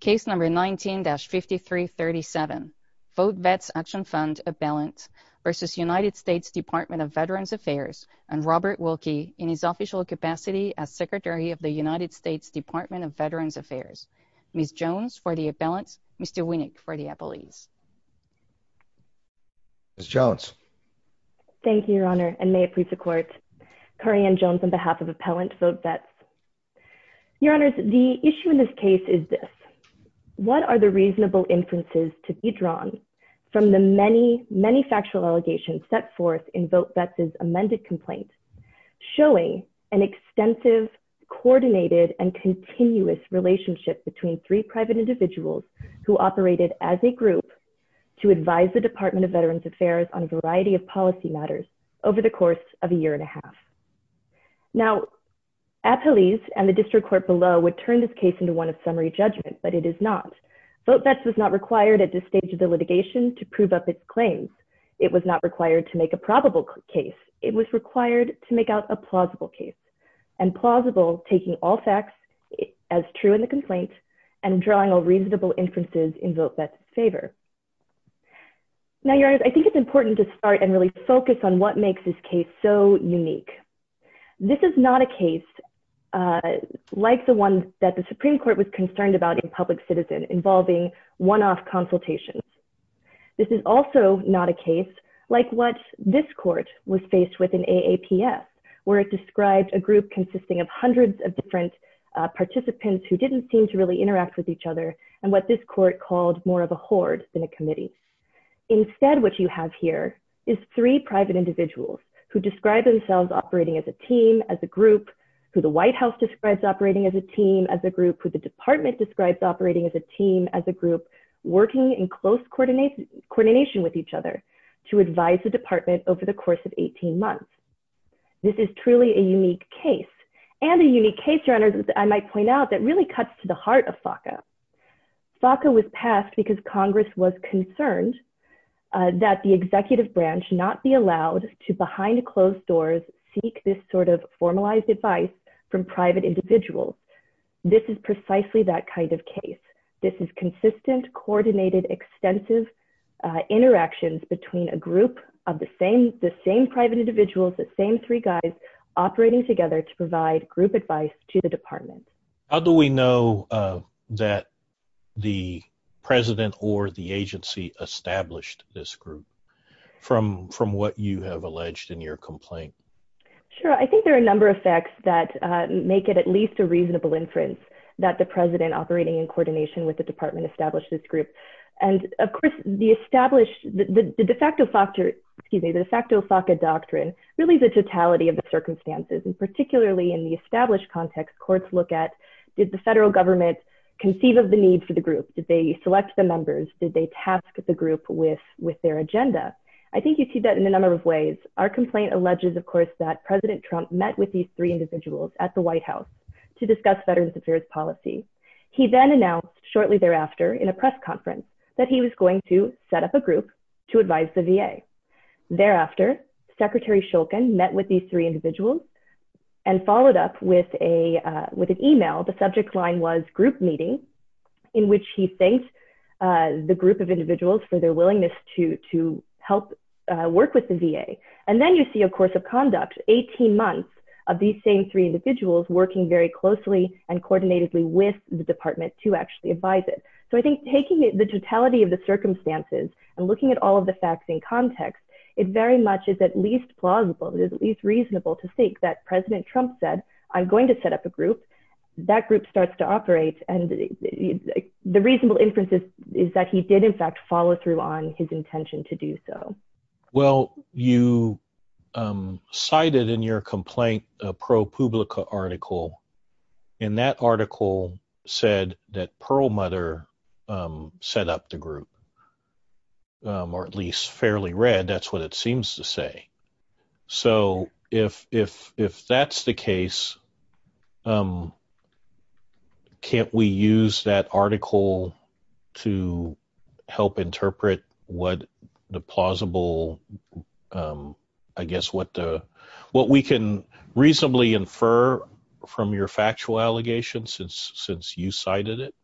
case number 19-5337 VoteVets Action Fund Appellant v. United States Department of Veterans Affairs and Robert Wilkie in his official capacity as Secretary of the United States Department of Veterans Affairs. Ms. Jones for the Appellants Mr. Winnick for the Appellees. Ms. Jones. Thank you, Your Honor, and may it please the Court. Corianne Jones on behalf of Appellant VoteVets. Your Honors, the issue in this case is this. What are the reasonable inferences to be drawn from the many, many factual allegations set forth in VoteVets' amended complaint showing an extensive, coordinated, and continuous relationship between three private individuals who operated as a group to advise the Department of Veterans Affairs on a variety of policy matters over the course of a year and a half. Now, Appellees and the District Court below would turn this case into one of summary judgment, but it is not. VoteVets was not required at this stage of the litigation to prove up its claims. It was not required to make a probable case. It was required to make out a plausible case, and plausible taking all facts as true in the complaint and drawing all reasonable inferences in VoteVets' favor. Now, Your Honors, I think it's important to start and really focus on what makes this case so unique. This is not a case like the one that the Supreme Court was concerned about in Public Citizen, involving one-off consultations. This is also not a case like what this court was faced with in AAPS, where it described a group consisting of hundreds of different participants who didn't seem to really interact with each other and what this court called more of a horde than a committee. Instead, what you have here is three private individuals who describe themselves operating as a team, as a group, who the White House describes operating as a team, as a group, who the department describes operating as a team, as a group, working in close coordination with each other to advise the department over the course of 18 months. This is truly a unique case, and a unique case, Your Honors, that I might point out that really cuts to the heart of FACA. FACA was passed because Congress was concerned that the executive branch not be allowed to, behind closed doors, seek this sort of formalized advice from private individuals. This is precisely that kind of case. This is consistent, coordinated, extensive interactions between a group of the same private individuals, the same three guys, operating together to provide group advice to the department. How do we know that the president or the agency established this group from what you have alleged in your complaint? Sure, I think there are a number of facts that make it at least a reasonable inference that the president operating in coordination with the department established this group. And of course the established, the de facto FACA doctrine, really the totality of the circumstances, and particularly in the established context, courts look at, did the federal government conceive of the need for the group? Did they select the members? Did they task the group with their agenda? I think you see that in a number of ways. Our complaint alleges, of course, that President Trump met with these three individuals at the White House to discuss Veterans Affairs policy. He then announced shortly thereafter in a press conference that he was going to set up a group to advise the VA. Thereafter, Secretary Shulkin met with these three individuals and followed up with an email, the subject line was group meeting, in which he thanked the group of individuals who helped work with the VA. And then you see a course of conduct, 18 months, of these same three individuals working very closely and coordinatedly with the department to actually advise it. So I think taking the totality of the circumstances and looking at all of the facts in context, it very much is at least plausible, it is at least reasonable to think that President Trump said, I'm going to set up a group, that group starts to operate, and the reasonable inference is that he did, in fact, follow through on his intention to do so. Well, you cited in your complaint a ProPublica article, and that article said that Perlmutter set up the group, or at least fairly read, that's what it seems to say. So if that's the case, can't we use that article to help interpret what the plausible, I guess, what we can reasonably infer from your factual allegations since you cited it?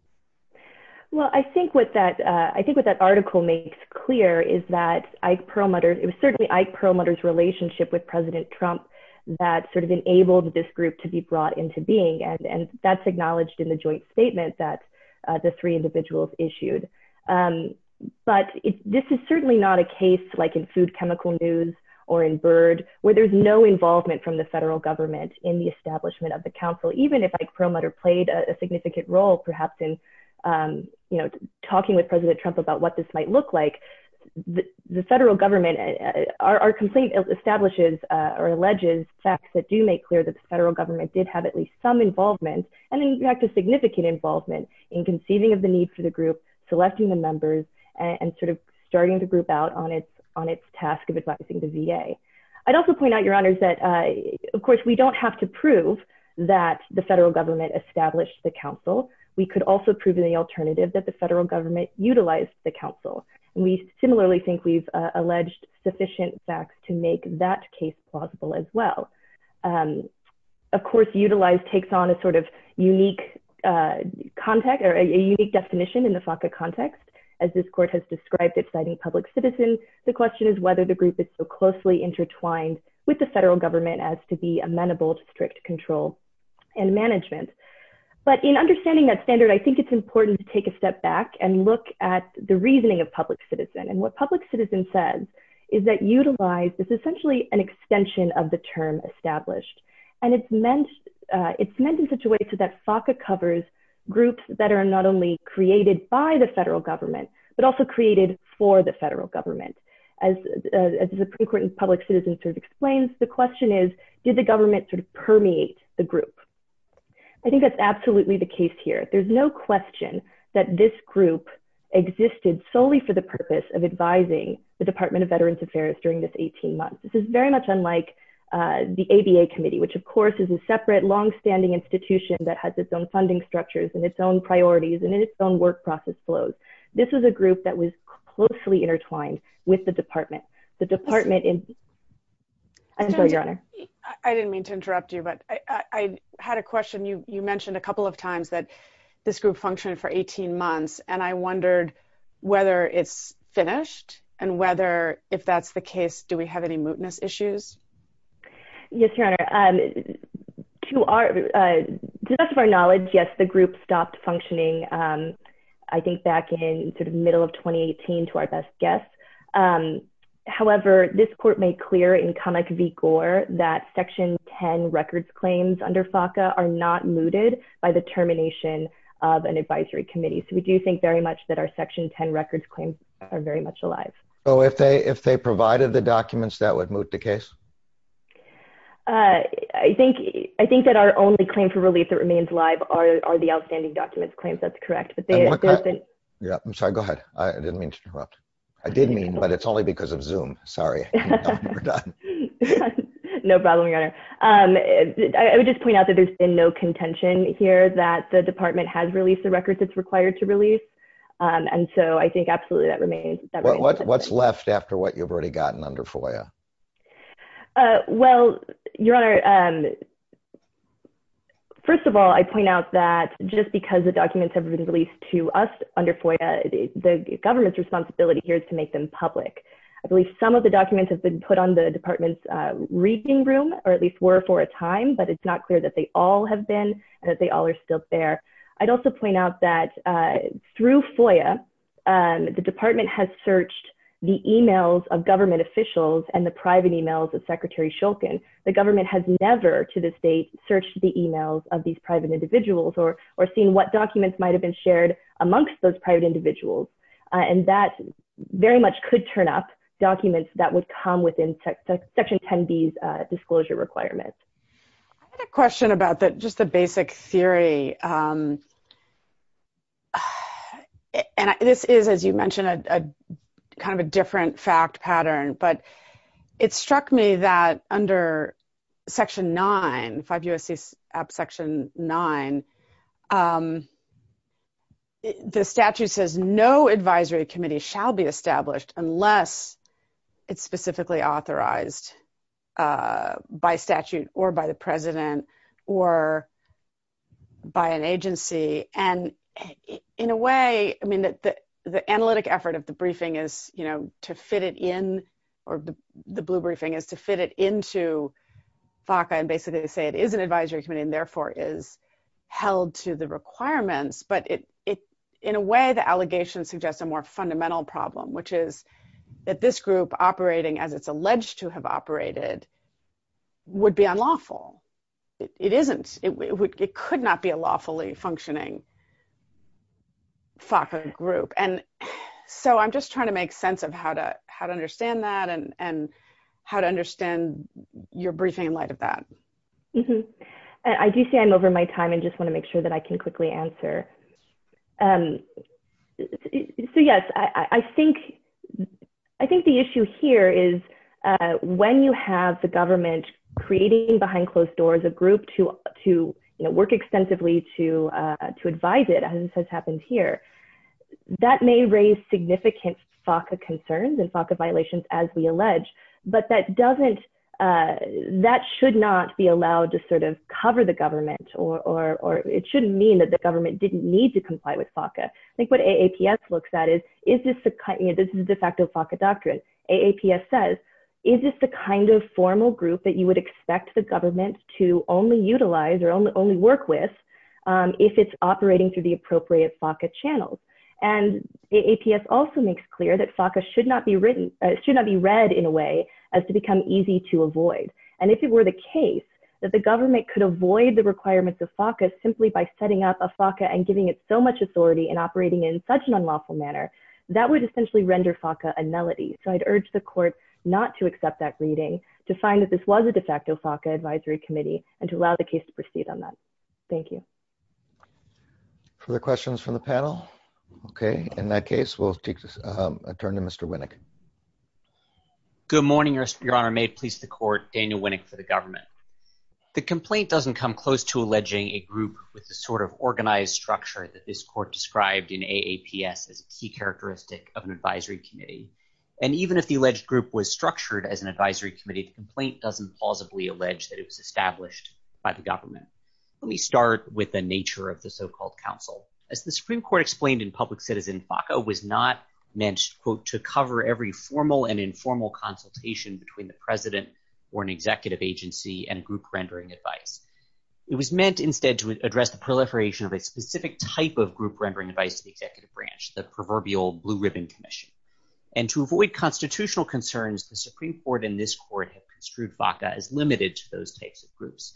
Well, I think what that article makes clear is that it was certainly Ike Perlmutter's relationship with President Trump that sort of enabled this group to be brought into being, and that's acknowledged in the joint statement that the three individuals issued. But this is certainly not a case like in Food Chemical News or in BIRD, where there's no involvement from the federal government in the establishment of the council, even if Ike Perlmutter played a significant role perhaps in, you know, what it might look like. The federal government, our complaint establishes or alleges facts that do make clear that the federal government did have at least some involvement, and in fact a significant involvement, in conceiving of the need for the group, selecting the members, and sort of starting the group out on its task of advising the VA. I'd also point out, Your Honors, that of course we don't have to prove that the federal government established the council. We could also prove in the alternative that the federal government utilized the council, and we similarly think we've alleged sufficient facts to make that case plausible as well. Of course, utilized takes on a sort of unique context or a unique definition in the FACA context. As this Court has described it citing public citizen, the question is whether the group is so closely intertwined with the federal government as to be amenable to strict control and management. But in understanding that I want to step back and look at the reasoning of public citizen, and what public citizen says is that utilized is essentially an extension of the term established, and it's meant in such a way so that FACA covers groups that are not only created by the federal government, but also created for the federal government. As the Supreme Court in public citizen sort of explains, the question is, did the government sort of permeate the group? I think that's this group existed solely for the purpose of advising the Department of Veterans Affairs during this 18 months. This is very much unlike the ABA Committee, which of course is a separate long-standing institution that has its own funding structures, and its own priorities, and in its own work process flows. This is a group that was closely intertwined with the department. The department in... I didn't mean to interrupt you, but I had a question. You mentioned a couple of times that this group functioned for 18 months, and I wondered whether it's finished, and whether, if that's the case, do we have any mootness issues? Yes, Your Honor. To the best of our knowledge, yes, the group stopped functioning, I think back in sort of middle of 2018 to our best guess. However, this court made clear in comic vigor that Section 10 records claims under FACA are not mooted by the termination of an advisory committee. So we do think very much that our Section 10 records claims are very much alive. So if they provided the documents, that would moot the case? I think that our only claim for relief that remains alive are the outstanding documents claims, that's correct. I'm sorry, go ahead. I didn't mean to interrupt. I did point out that there's been no contention here that the department has released the records it's required to release, and so I think absolutely that remains. What's left after what you've already gotten under FOIA? Well, Your Honor, first of all, I point out that just because the documents have been released to us under FOIA, the government's responsibility here is to make them public. I believe some of the documents have been put on the record that they all have been and that they all are still there. I'd also point out that through FOIA, the department has searched the emails of government officials and the private emails of Secretary Shulkin. The government has never, to this date, searched the emails of these private individuals or seen what documents might have been shared amongst those private individuals, and that very much could turn up documents that would come within Section 10B's question about that just the basic theory, and this is, as you mentioned, a kind of a different fact pattern, but it struck me that under Section 9, 5 U.S.C. Section 9, the statute says no advisory committee shall be established unless it's specifically authorized by statute or by the president or by an agency, and in a way, I mean, the analytic effort of the briefing is, you know, to fit it in, or the blue briefing is to fit it into FACA and basically say it is an advisory committee and therefore is held to the requirements, but in a way, the this group operating as it's alleged to have operated would be unlawful. It isn't. It could not be a lawfully functioning FACA group, and so I'm just trying to make sense of how to understand that and how to understand your briefing in light of that. Mm-hmm. I do say I'm over my time and just want to make sure that I can quickly answer. So yes, I think the issue here is when you have the government creating behind closed doors a group to work extensively to advise it, as has happened here, that may raise significant FACA concerns and FACA violations as we allege, but that doesn't, that should not be allowed to cover the government, or it shouldn't mean that the government didn't need to comply with FACA. I think what AAPS looks at is, is this the kind, you know, this is de facto FACA doctrine. AAPS says, is this the kind of formal group that you would expect the government to only utilize or only work with if it's operating through the appropriate FACA channels? And AAPS also makes clear that FACA should not be written, should not be read in a way as to become easy to read. If the government could avoid the requirements of FACA simply by setting up a FACA and giving it so much authority and operating in such an unlawful manner, that would essentially render FACA a melody. So I'd urge the court not to accept that reading, to find that this was a de facto FACA advisory committee, and to allow the case to proceed on that. Thank you. Further questions from the panel? Okay, in that case we'll take a turn to Mr. Winnick. Good morning, Your Honor. May it please the court, Daniel Winnick for the government. The complaint doesn't come close to alleging a group with the sort of organized structure that this court described in AAPS as a key characteristic of an advisory committee, and even if the alleged group was structured as an advisory committee, the complaint doesn't plausibly allege that it was established by the government. Let me start with the nature of the so-called counsel. As the It was meant instead to address the proliferation of a specific type of group rendering advice to the executive branch, the proverbial Blue Ribbon Commission. And to avoid constitutional concerns, the Supreme Court and this court have construed FACA as limited to those types of groups.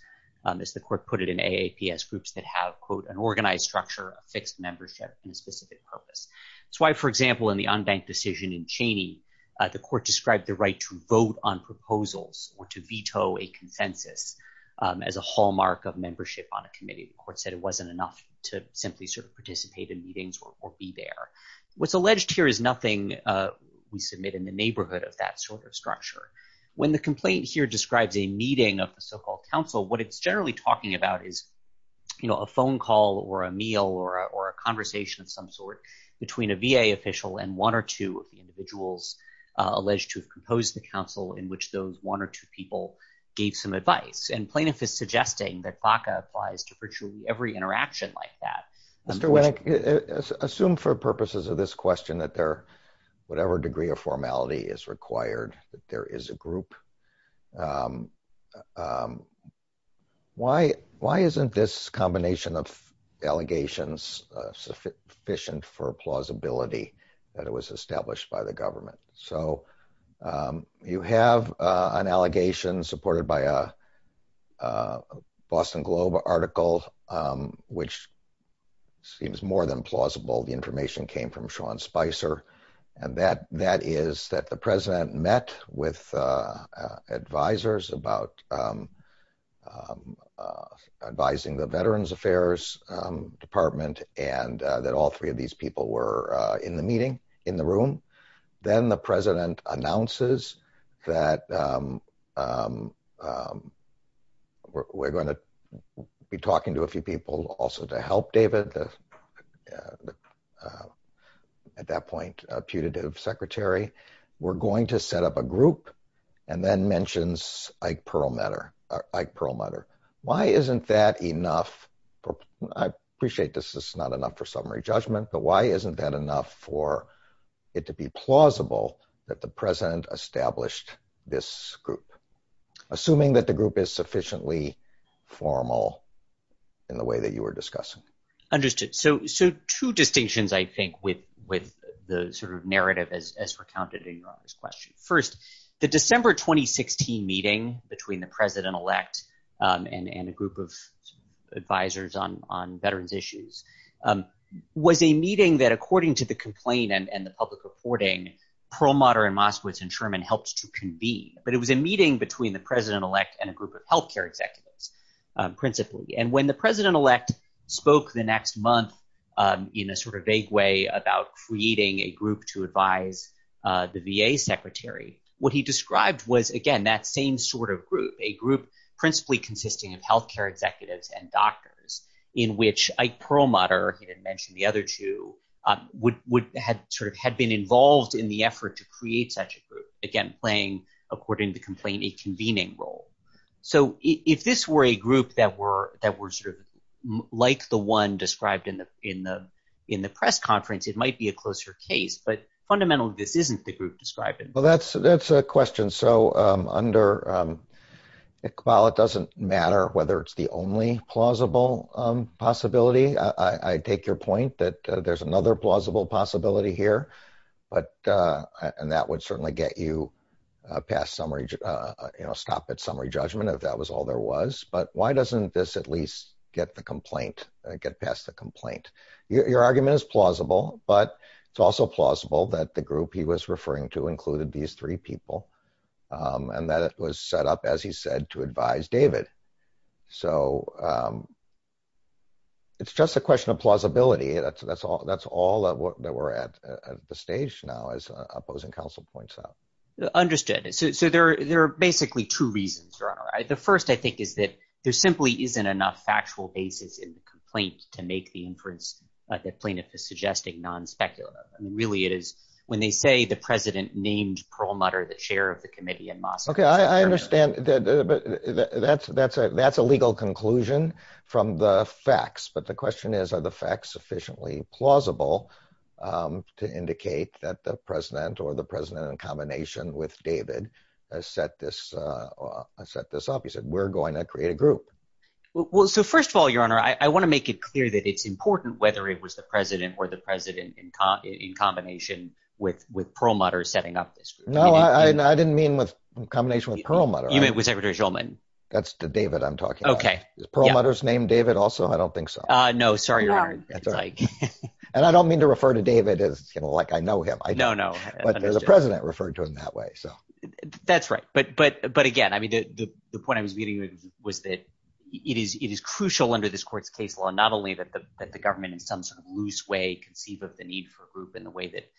As the court put it in AAPS, groups that have, quote, an organized structure, a fixed membership, and a specific purpose. That's why, for example, in the unbanked decision in Cheney, the court described the right to vote on proposals or to veto a consensus as a hallmark of membership on a committee. The court said it wasn't enough to simply sort of participate in meetings or be there. What's alleged here is nothing we submit in the neighborhood of that sort of structure. When the complaint here describes a meeting of the so-called counsel, what it's call or a meal or a conversation of some sort between a VA official and one or two of the individuals alleged to have composed the counsel in which those one or two people gave some advice. And plaintiff is suggesting that FACA applies to virtually every interaction like that. Mr. Winnick, assume for purposes of this question that there, whatever degree of formality is required, that there is a combination of allegations sufficient for plausibility that it was established by the government. So you have an allegation supported by a Boston Globe article which seems more than plausible. The information came from Sean Spicer and that is that the president met with advisers about advising the veterans affairs department and that all three of these people were in the meeting, in the room. Then the president announces that we're going to be talking to a few people also to help David, at that point a putative secretary. We're going to set up a group and then mentions Ike Perlmutter. Why isn't that enough for, I appreciate this is not enough for summary judgment, but why isn't that enough for it to be plausible that the president established this group? Assuming that the group is sufficiently formal in the way that you were discussing. Understood. So two distinctions I think with the sort of narrative as recounted in this question. First, the December 2016 meeting between the president-elect and a group of advisers on veterans issues was a meeting that according to the complaint and the public reporting, Perlmutter and Moskowitz and Sherman helped to convene. But it was a meeting between the president-elect and a group of health care executives principally. And when the president-elect spoke the next month in a sort of vague way about creating a group to advise the VA secretary, what he described was again that same sort of group. A group principally consisting of health care executives and doctors in which Ike Perlmutter, he had mentioned the other two, would had sort of had been involved in the effort to create such a group. Again playing according to complaint a convening role. So if this were a group that were that were sort of like the one described in the in the in the press conference, it might be a closer case. But fundamentally this isn't the group described. Well that's that's a good question. So under, well it doesn't matter whether it's the only plausible possibility. I take your point that there's another plausible possibility here. But and that would certainly get you past summary, you know stop at summary judgment if that was all there was. But why doesn't this at least get the complaint, get past the complaint? Your argument is plausible but it's also plausible that the group he was referring to included these three people and that it was set up as he said to advise David. So it's just a question of plausibility. That's that's all that's all that we're at the stage now as opposing counsel points out. Understood. So there are basically two reasons. The first I think is that there simply isn't enough factual basis in the complaint to make the inference that plaintiff is suggesting non-speculative. Really it is when they say the president named Perlmutter the chair of the committee in Moscow. Okay I understand that that's that's a that's a legal conclusion from the facts. But the question is are the facts sufficiently plausible to indicate that the president or the president in combination with David has set this set this up. He said we're going to create a group. Well so first of all your honor I want to make it clear that it's important whether it was the president or the president in combination with with Perlmutter setting up this. No I didn't mean with combination with Perlmutter. You mean with Secretary Shulman. That's to David I'm talking. Okay. Is Perlmutter's name David also? I don't think so. No sorry your honor. And I don't mean to refer to David as you know like I know him. No no. But there's a president referred to him that way so. That's right but but but again I mean the point I was meeting with was that it is it is crucial under this court's case law not only that the government in some sort of loose way conceive of the need for a group in the way that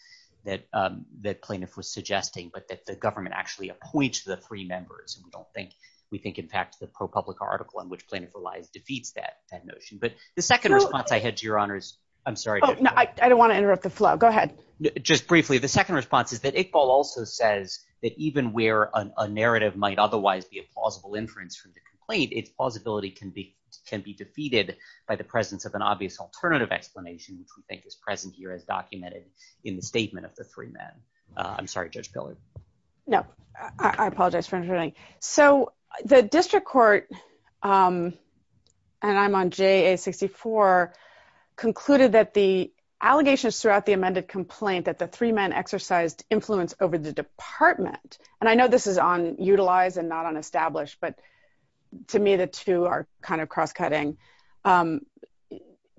that that plaintiff was suggesting but that the government actually appoints the three members and we don't think we think in fact the ProPublica article on which plaintiff relies defeats that that notion. But the second response I had to your honors I'm sorry. No I don't want to interrupt the flow. Go ahead. Just briefly the second response is that Iqbal also says that even where a narrative might otherwise be a plausible inference from the complaint its plausibility can be can be defeated by the presence of an obvious alternative explanation which we think is present here as documented in the statement of the three men. I'm sorry Judge Pillard. No I apologize for interrupting. So the district court and I'm on JA 64 concluded that the allegations throughout the amended complaint that the three men exercised influence over the department and I know this is on utilize and not on established but to me the two are kind of cross-cutting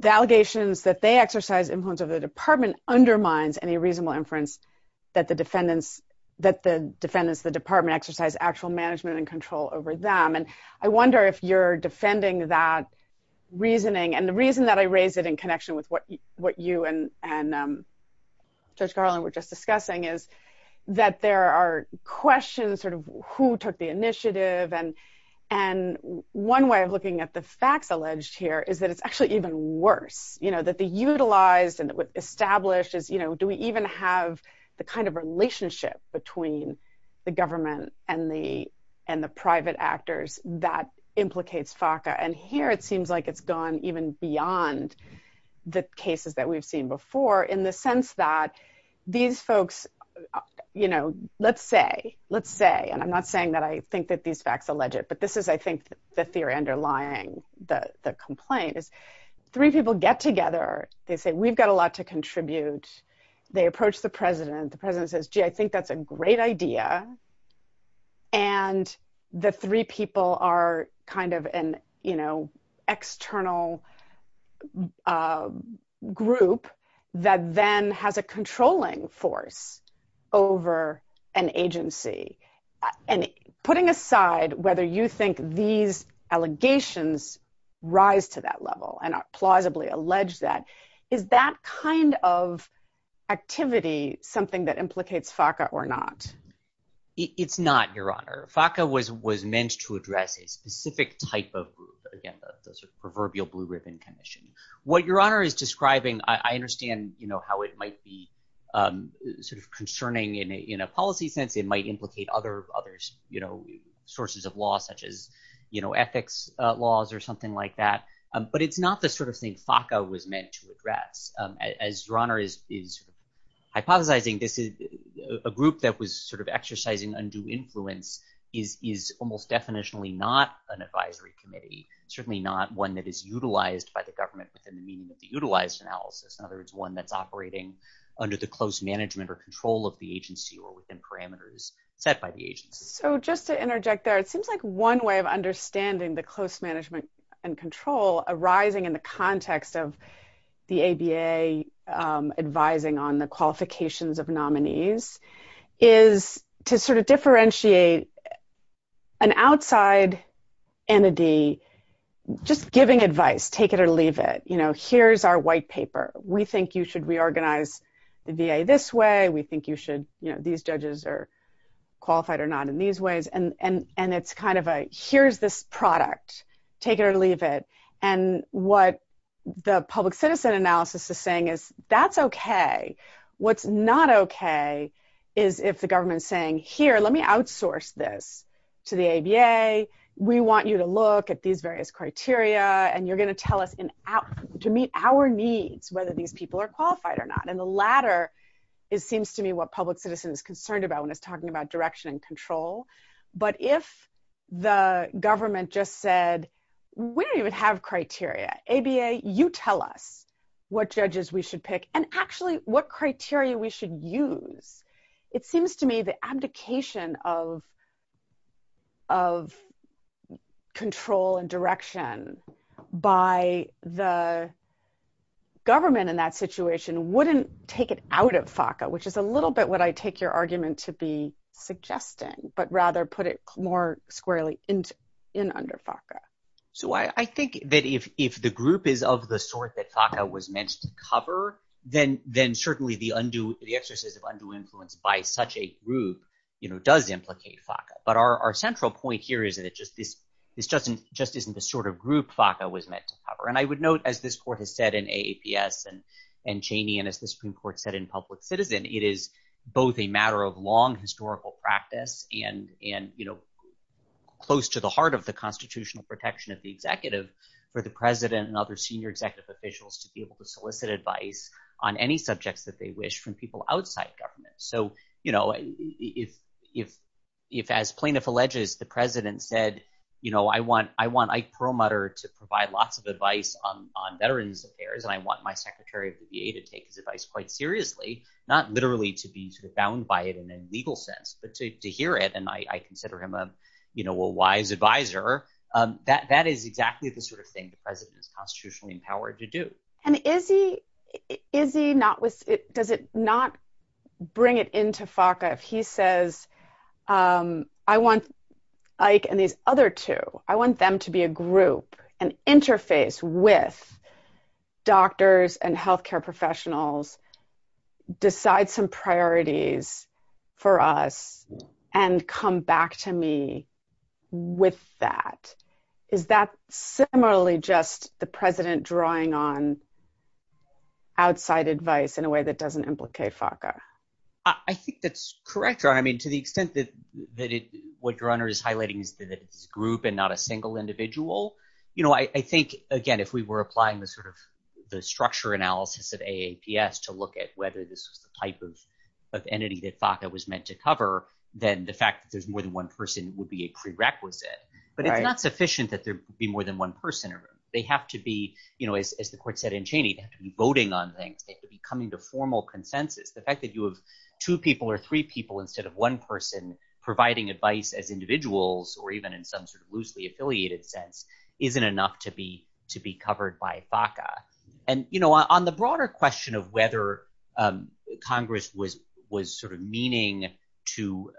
the allegations that they exercise influence of the department undermines any reasonable inference that the defendants that the defendants the department exercise actual management and control over them and I wonder if you're defending that reasoning and the reason that I raised it in connection with what what you and and Judge Garland were just discussing is that there are questions sort of who took the initiative and and one way of facts alleged here is that it's actually even worse you know that the utilized and established is you know do we even have the kind of relationship between the government and the and the private actors that implicates FACA and here it seems like it's gone even beyond the cases that we've seen before in the sense that these folks you know let's say let's say and I'm not saying that I think the theory underlying the complaint is three people get together they say we've got a lot to contribute they approach the president the president says gee I think that's a great idea and the three people are kind of an you know external group that then has a controlling force over an these allegations rise to that level and plausibly allege that is that kind of activity something that implicates FACA or not it's not your honor FACA was was meant to address a specific type of proverbial blue ribbon commission what your honor is describing I understand you know how it might be sort of concerning in a policy sense it might implicate other others you know sources of law such as you know ethics laws or something like that but it's not the sort of thing FACA was meant to address as your honor is is hypothesizing this is a group that was sort of exercising undue influence is is almost definitionally not an advisory committee certainly not one that is utilized by the government within the meaning of the utilized analysis in other words one that's operating under the close management or control of the agency or within parameters set by the agency so just to interject there it seems like one way of understanding the close management and control arising in the context of the ABA advising on the qualifications of nominees is to sort of differentiate an outside entity just giving advice take it or leave it you know here's our white paper we think you should reorganize the VA this way we think you should you know these judges are qualified or not in these ways and and and it's kind of a here's this product take it or leave it and what the public citizen analysis is saying is that's okay what's not okay is if the government's saying here let me outsource this to the ABA we want you to look at these various criteria and you're gonna tell us in out to meet our whether these people are qualified or not and the latter is seems to me what public citizen is concerned about when it's talking about direction and control but if the government just said we don't even have criteria ABA you tell us what judges we should pick and actually what criteria we should use it seems to me the abdication of of control and direction by the government in that situation wouldn't take it out of FACA which is a little bit what I take your argument to be suggesting but rather put it more squarely into in under FACA so I think that if if the group is of the sort that FACA was meant to cover then certainly the undue the exercise of undue influence by such a group you know does implicate FACA but our central point here is that it just this this doesn't just isn't the sort of group FACA was meant to cover and I would note as this court has said in AAPS and and Cheney and as the Supreme Court said in public citizen it is both a matter of long historical practice and and you know close to the heart of the constitutional protection of the executive for the president and other senior executive officials to be able to address any subjects that they wish from people outside government so you know if if if as plaintiff alleges the president said you know I want I want I pro-mutter to provide lots of advice on veterans affairs and I want my secretary of the VA to take his advice quite seriously not literally to be found by it in a legal sense but to hear it and I consider him a you know a wise advisor that that is exactly the sort of thing the president is constitutionally empowered to do and is he is he not was it does it not bring it into FACA if he says I want Ike and these other two I want them to be a group an interface with doctors and health care professionals decide some priorities for us and come back to me with that is that similarly just the president drawing on outside advice in a way that doesn't implicate FACA I think that's correct or I mean to the extent that that it would runner is highlighting is that it's group and not a single individual you know I think again if we were applying the sort of the structure analysis of a APS to look at whether this was the type of entity that FACA was meant to cover then the fact that there's more than one person would be a prerequisite but it's not sufficient that there be more than one person or they have to be you know as the court said in Cheney to be voting on things they could be coming to formal consensus the fact that you have two people or three people instead of one person providing advice as individuals or even in some sort of loosely affiliated sense isn't enough to be to be covered by FACA and you know on the broader question of whether Congress was was sort of meaning to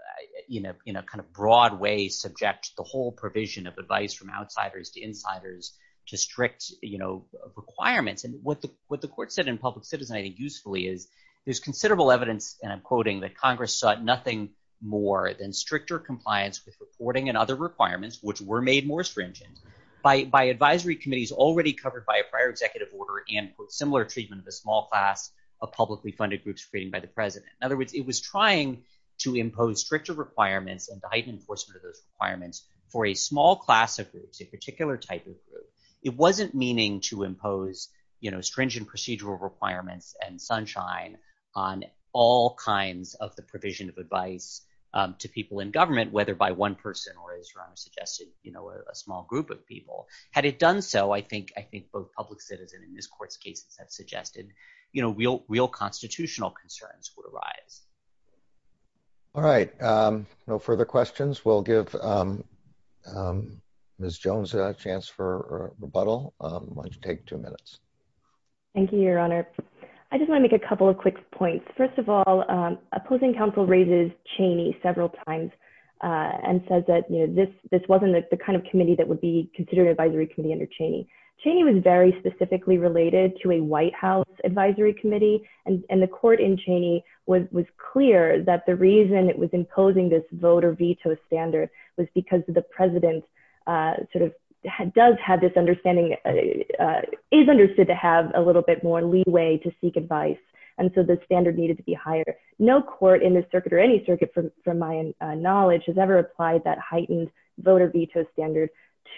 you know in a kind of broad way subject the whole provision of advice from outsiders to insiders to strict you know requirements and what the what the court said in public citizen I think usefully is there's considerable evidence and I'm quoting that Congress sought nothing more than stricter compliance with reporting and other requirements which were made more stringent by advisory committees already covered by a prior executive order and with similar treatment of a small class of publicly funded groups created by the president in other words it was trying to impose stricter requirements and the heightened enforcement of those requirements for a small class of groups a particular type of group it wasn't meaning to impose you know stringent procedural requirements and sunshine on all kinds of the provision of advice to people in government whether by one person or as Rana suggested you know a small group of people had it done so I think I think both public citizen in this court's cases have suggested you arise all right no further questions we'll give miss Jones a chance for rebuttal why don't you take two minutes thank you your honor I just wanna make a couple of quick points first of all opposing counsel raises Cheney several times and says that you know this this wasn't the kind of committee that would be considered advisory committee under Cheney Cheney was very specifically related to a White House Advisory Committee and the court in Cheney was was clear that the reason it was imposing this voter veto standard was because the president sort of does have this understanding is understood to have a little bit more leeway to seek advice and so the standard needed to be higher no court in this circuit or any circuit from from my knowledge has ever applied that heightened voter veto standard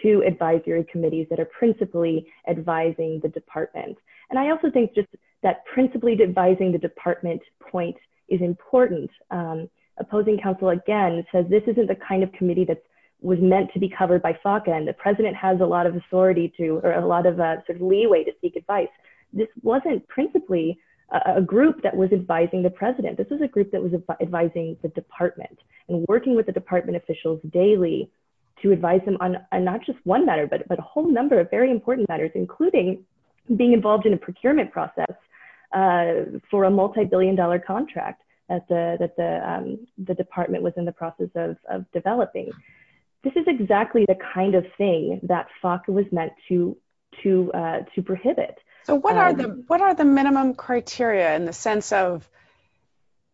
to advisory committees that are principally advising the department and I also think just that principally devising the department point is important opposing counsel again says this isn't the kind of committee that was meant to be covered by FACA and the president has a lot of authority to or a lot of a sort of leeway to seek advice this wasn't principally a group that was advising the president this is a group that was advising the department and working with the department officials daily to advise them on a not just one matter but but a whole number of very important matters including being involved in a procurement process for a multi-billion dollar contract at the the department was in the process of developing this is exactly the kind of thing that FACA was meant to to to prohibit so what are the what are the minimum criteria in the sense of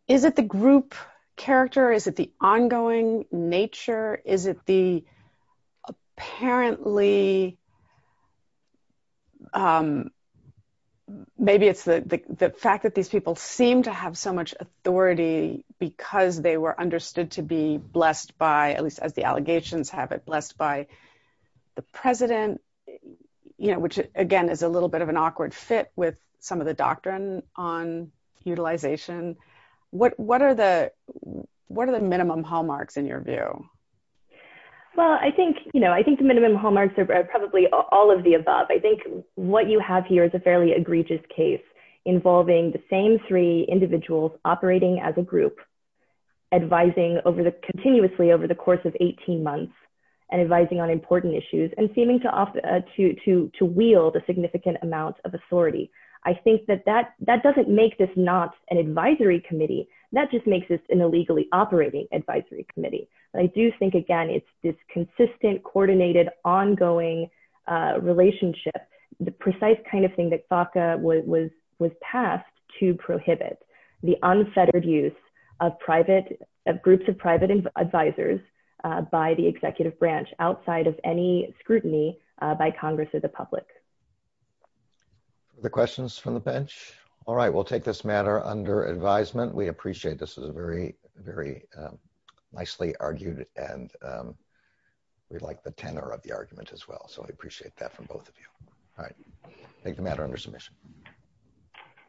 is it the group character is it ongoing nature is it the apparently maybe it's the fact that these people seem to have so much authority because they were understood to be blessed by at least as the allegations have it blessed by the president you know which again is a little bit of an awkward fit with some of the doctrine on utilization what what are the what are the minimum hallmarks in your view well I think you know I think the minimum hallmarks are probably all of the above I think what you have here is a fairly egregious case involving the same three individuals operating as a group advising over the continuously over the course of 18 months and advising on important issues and seeming to often to to to wield a significant amount of authority I think that that that doesn't make this not an it makes this an illegally operating Advisory Committee but I do think again it's this consistent coordinated ongoing relationship the precise kind of thing that FACA was was passed to prohibit the unfettered use of private groups of private advisors by the executive branch outside of any scrutiny by Congress or the public the questions from the bench all right we'll take this matter under advisement we appreciate this is a very very nicely argued and we'd like the tenor of the argument as well so I appreciate that from both of you all right take the matter under submission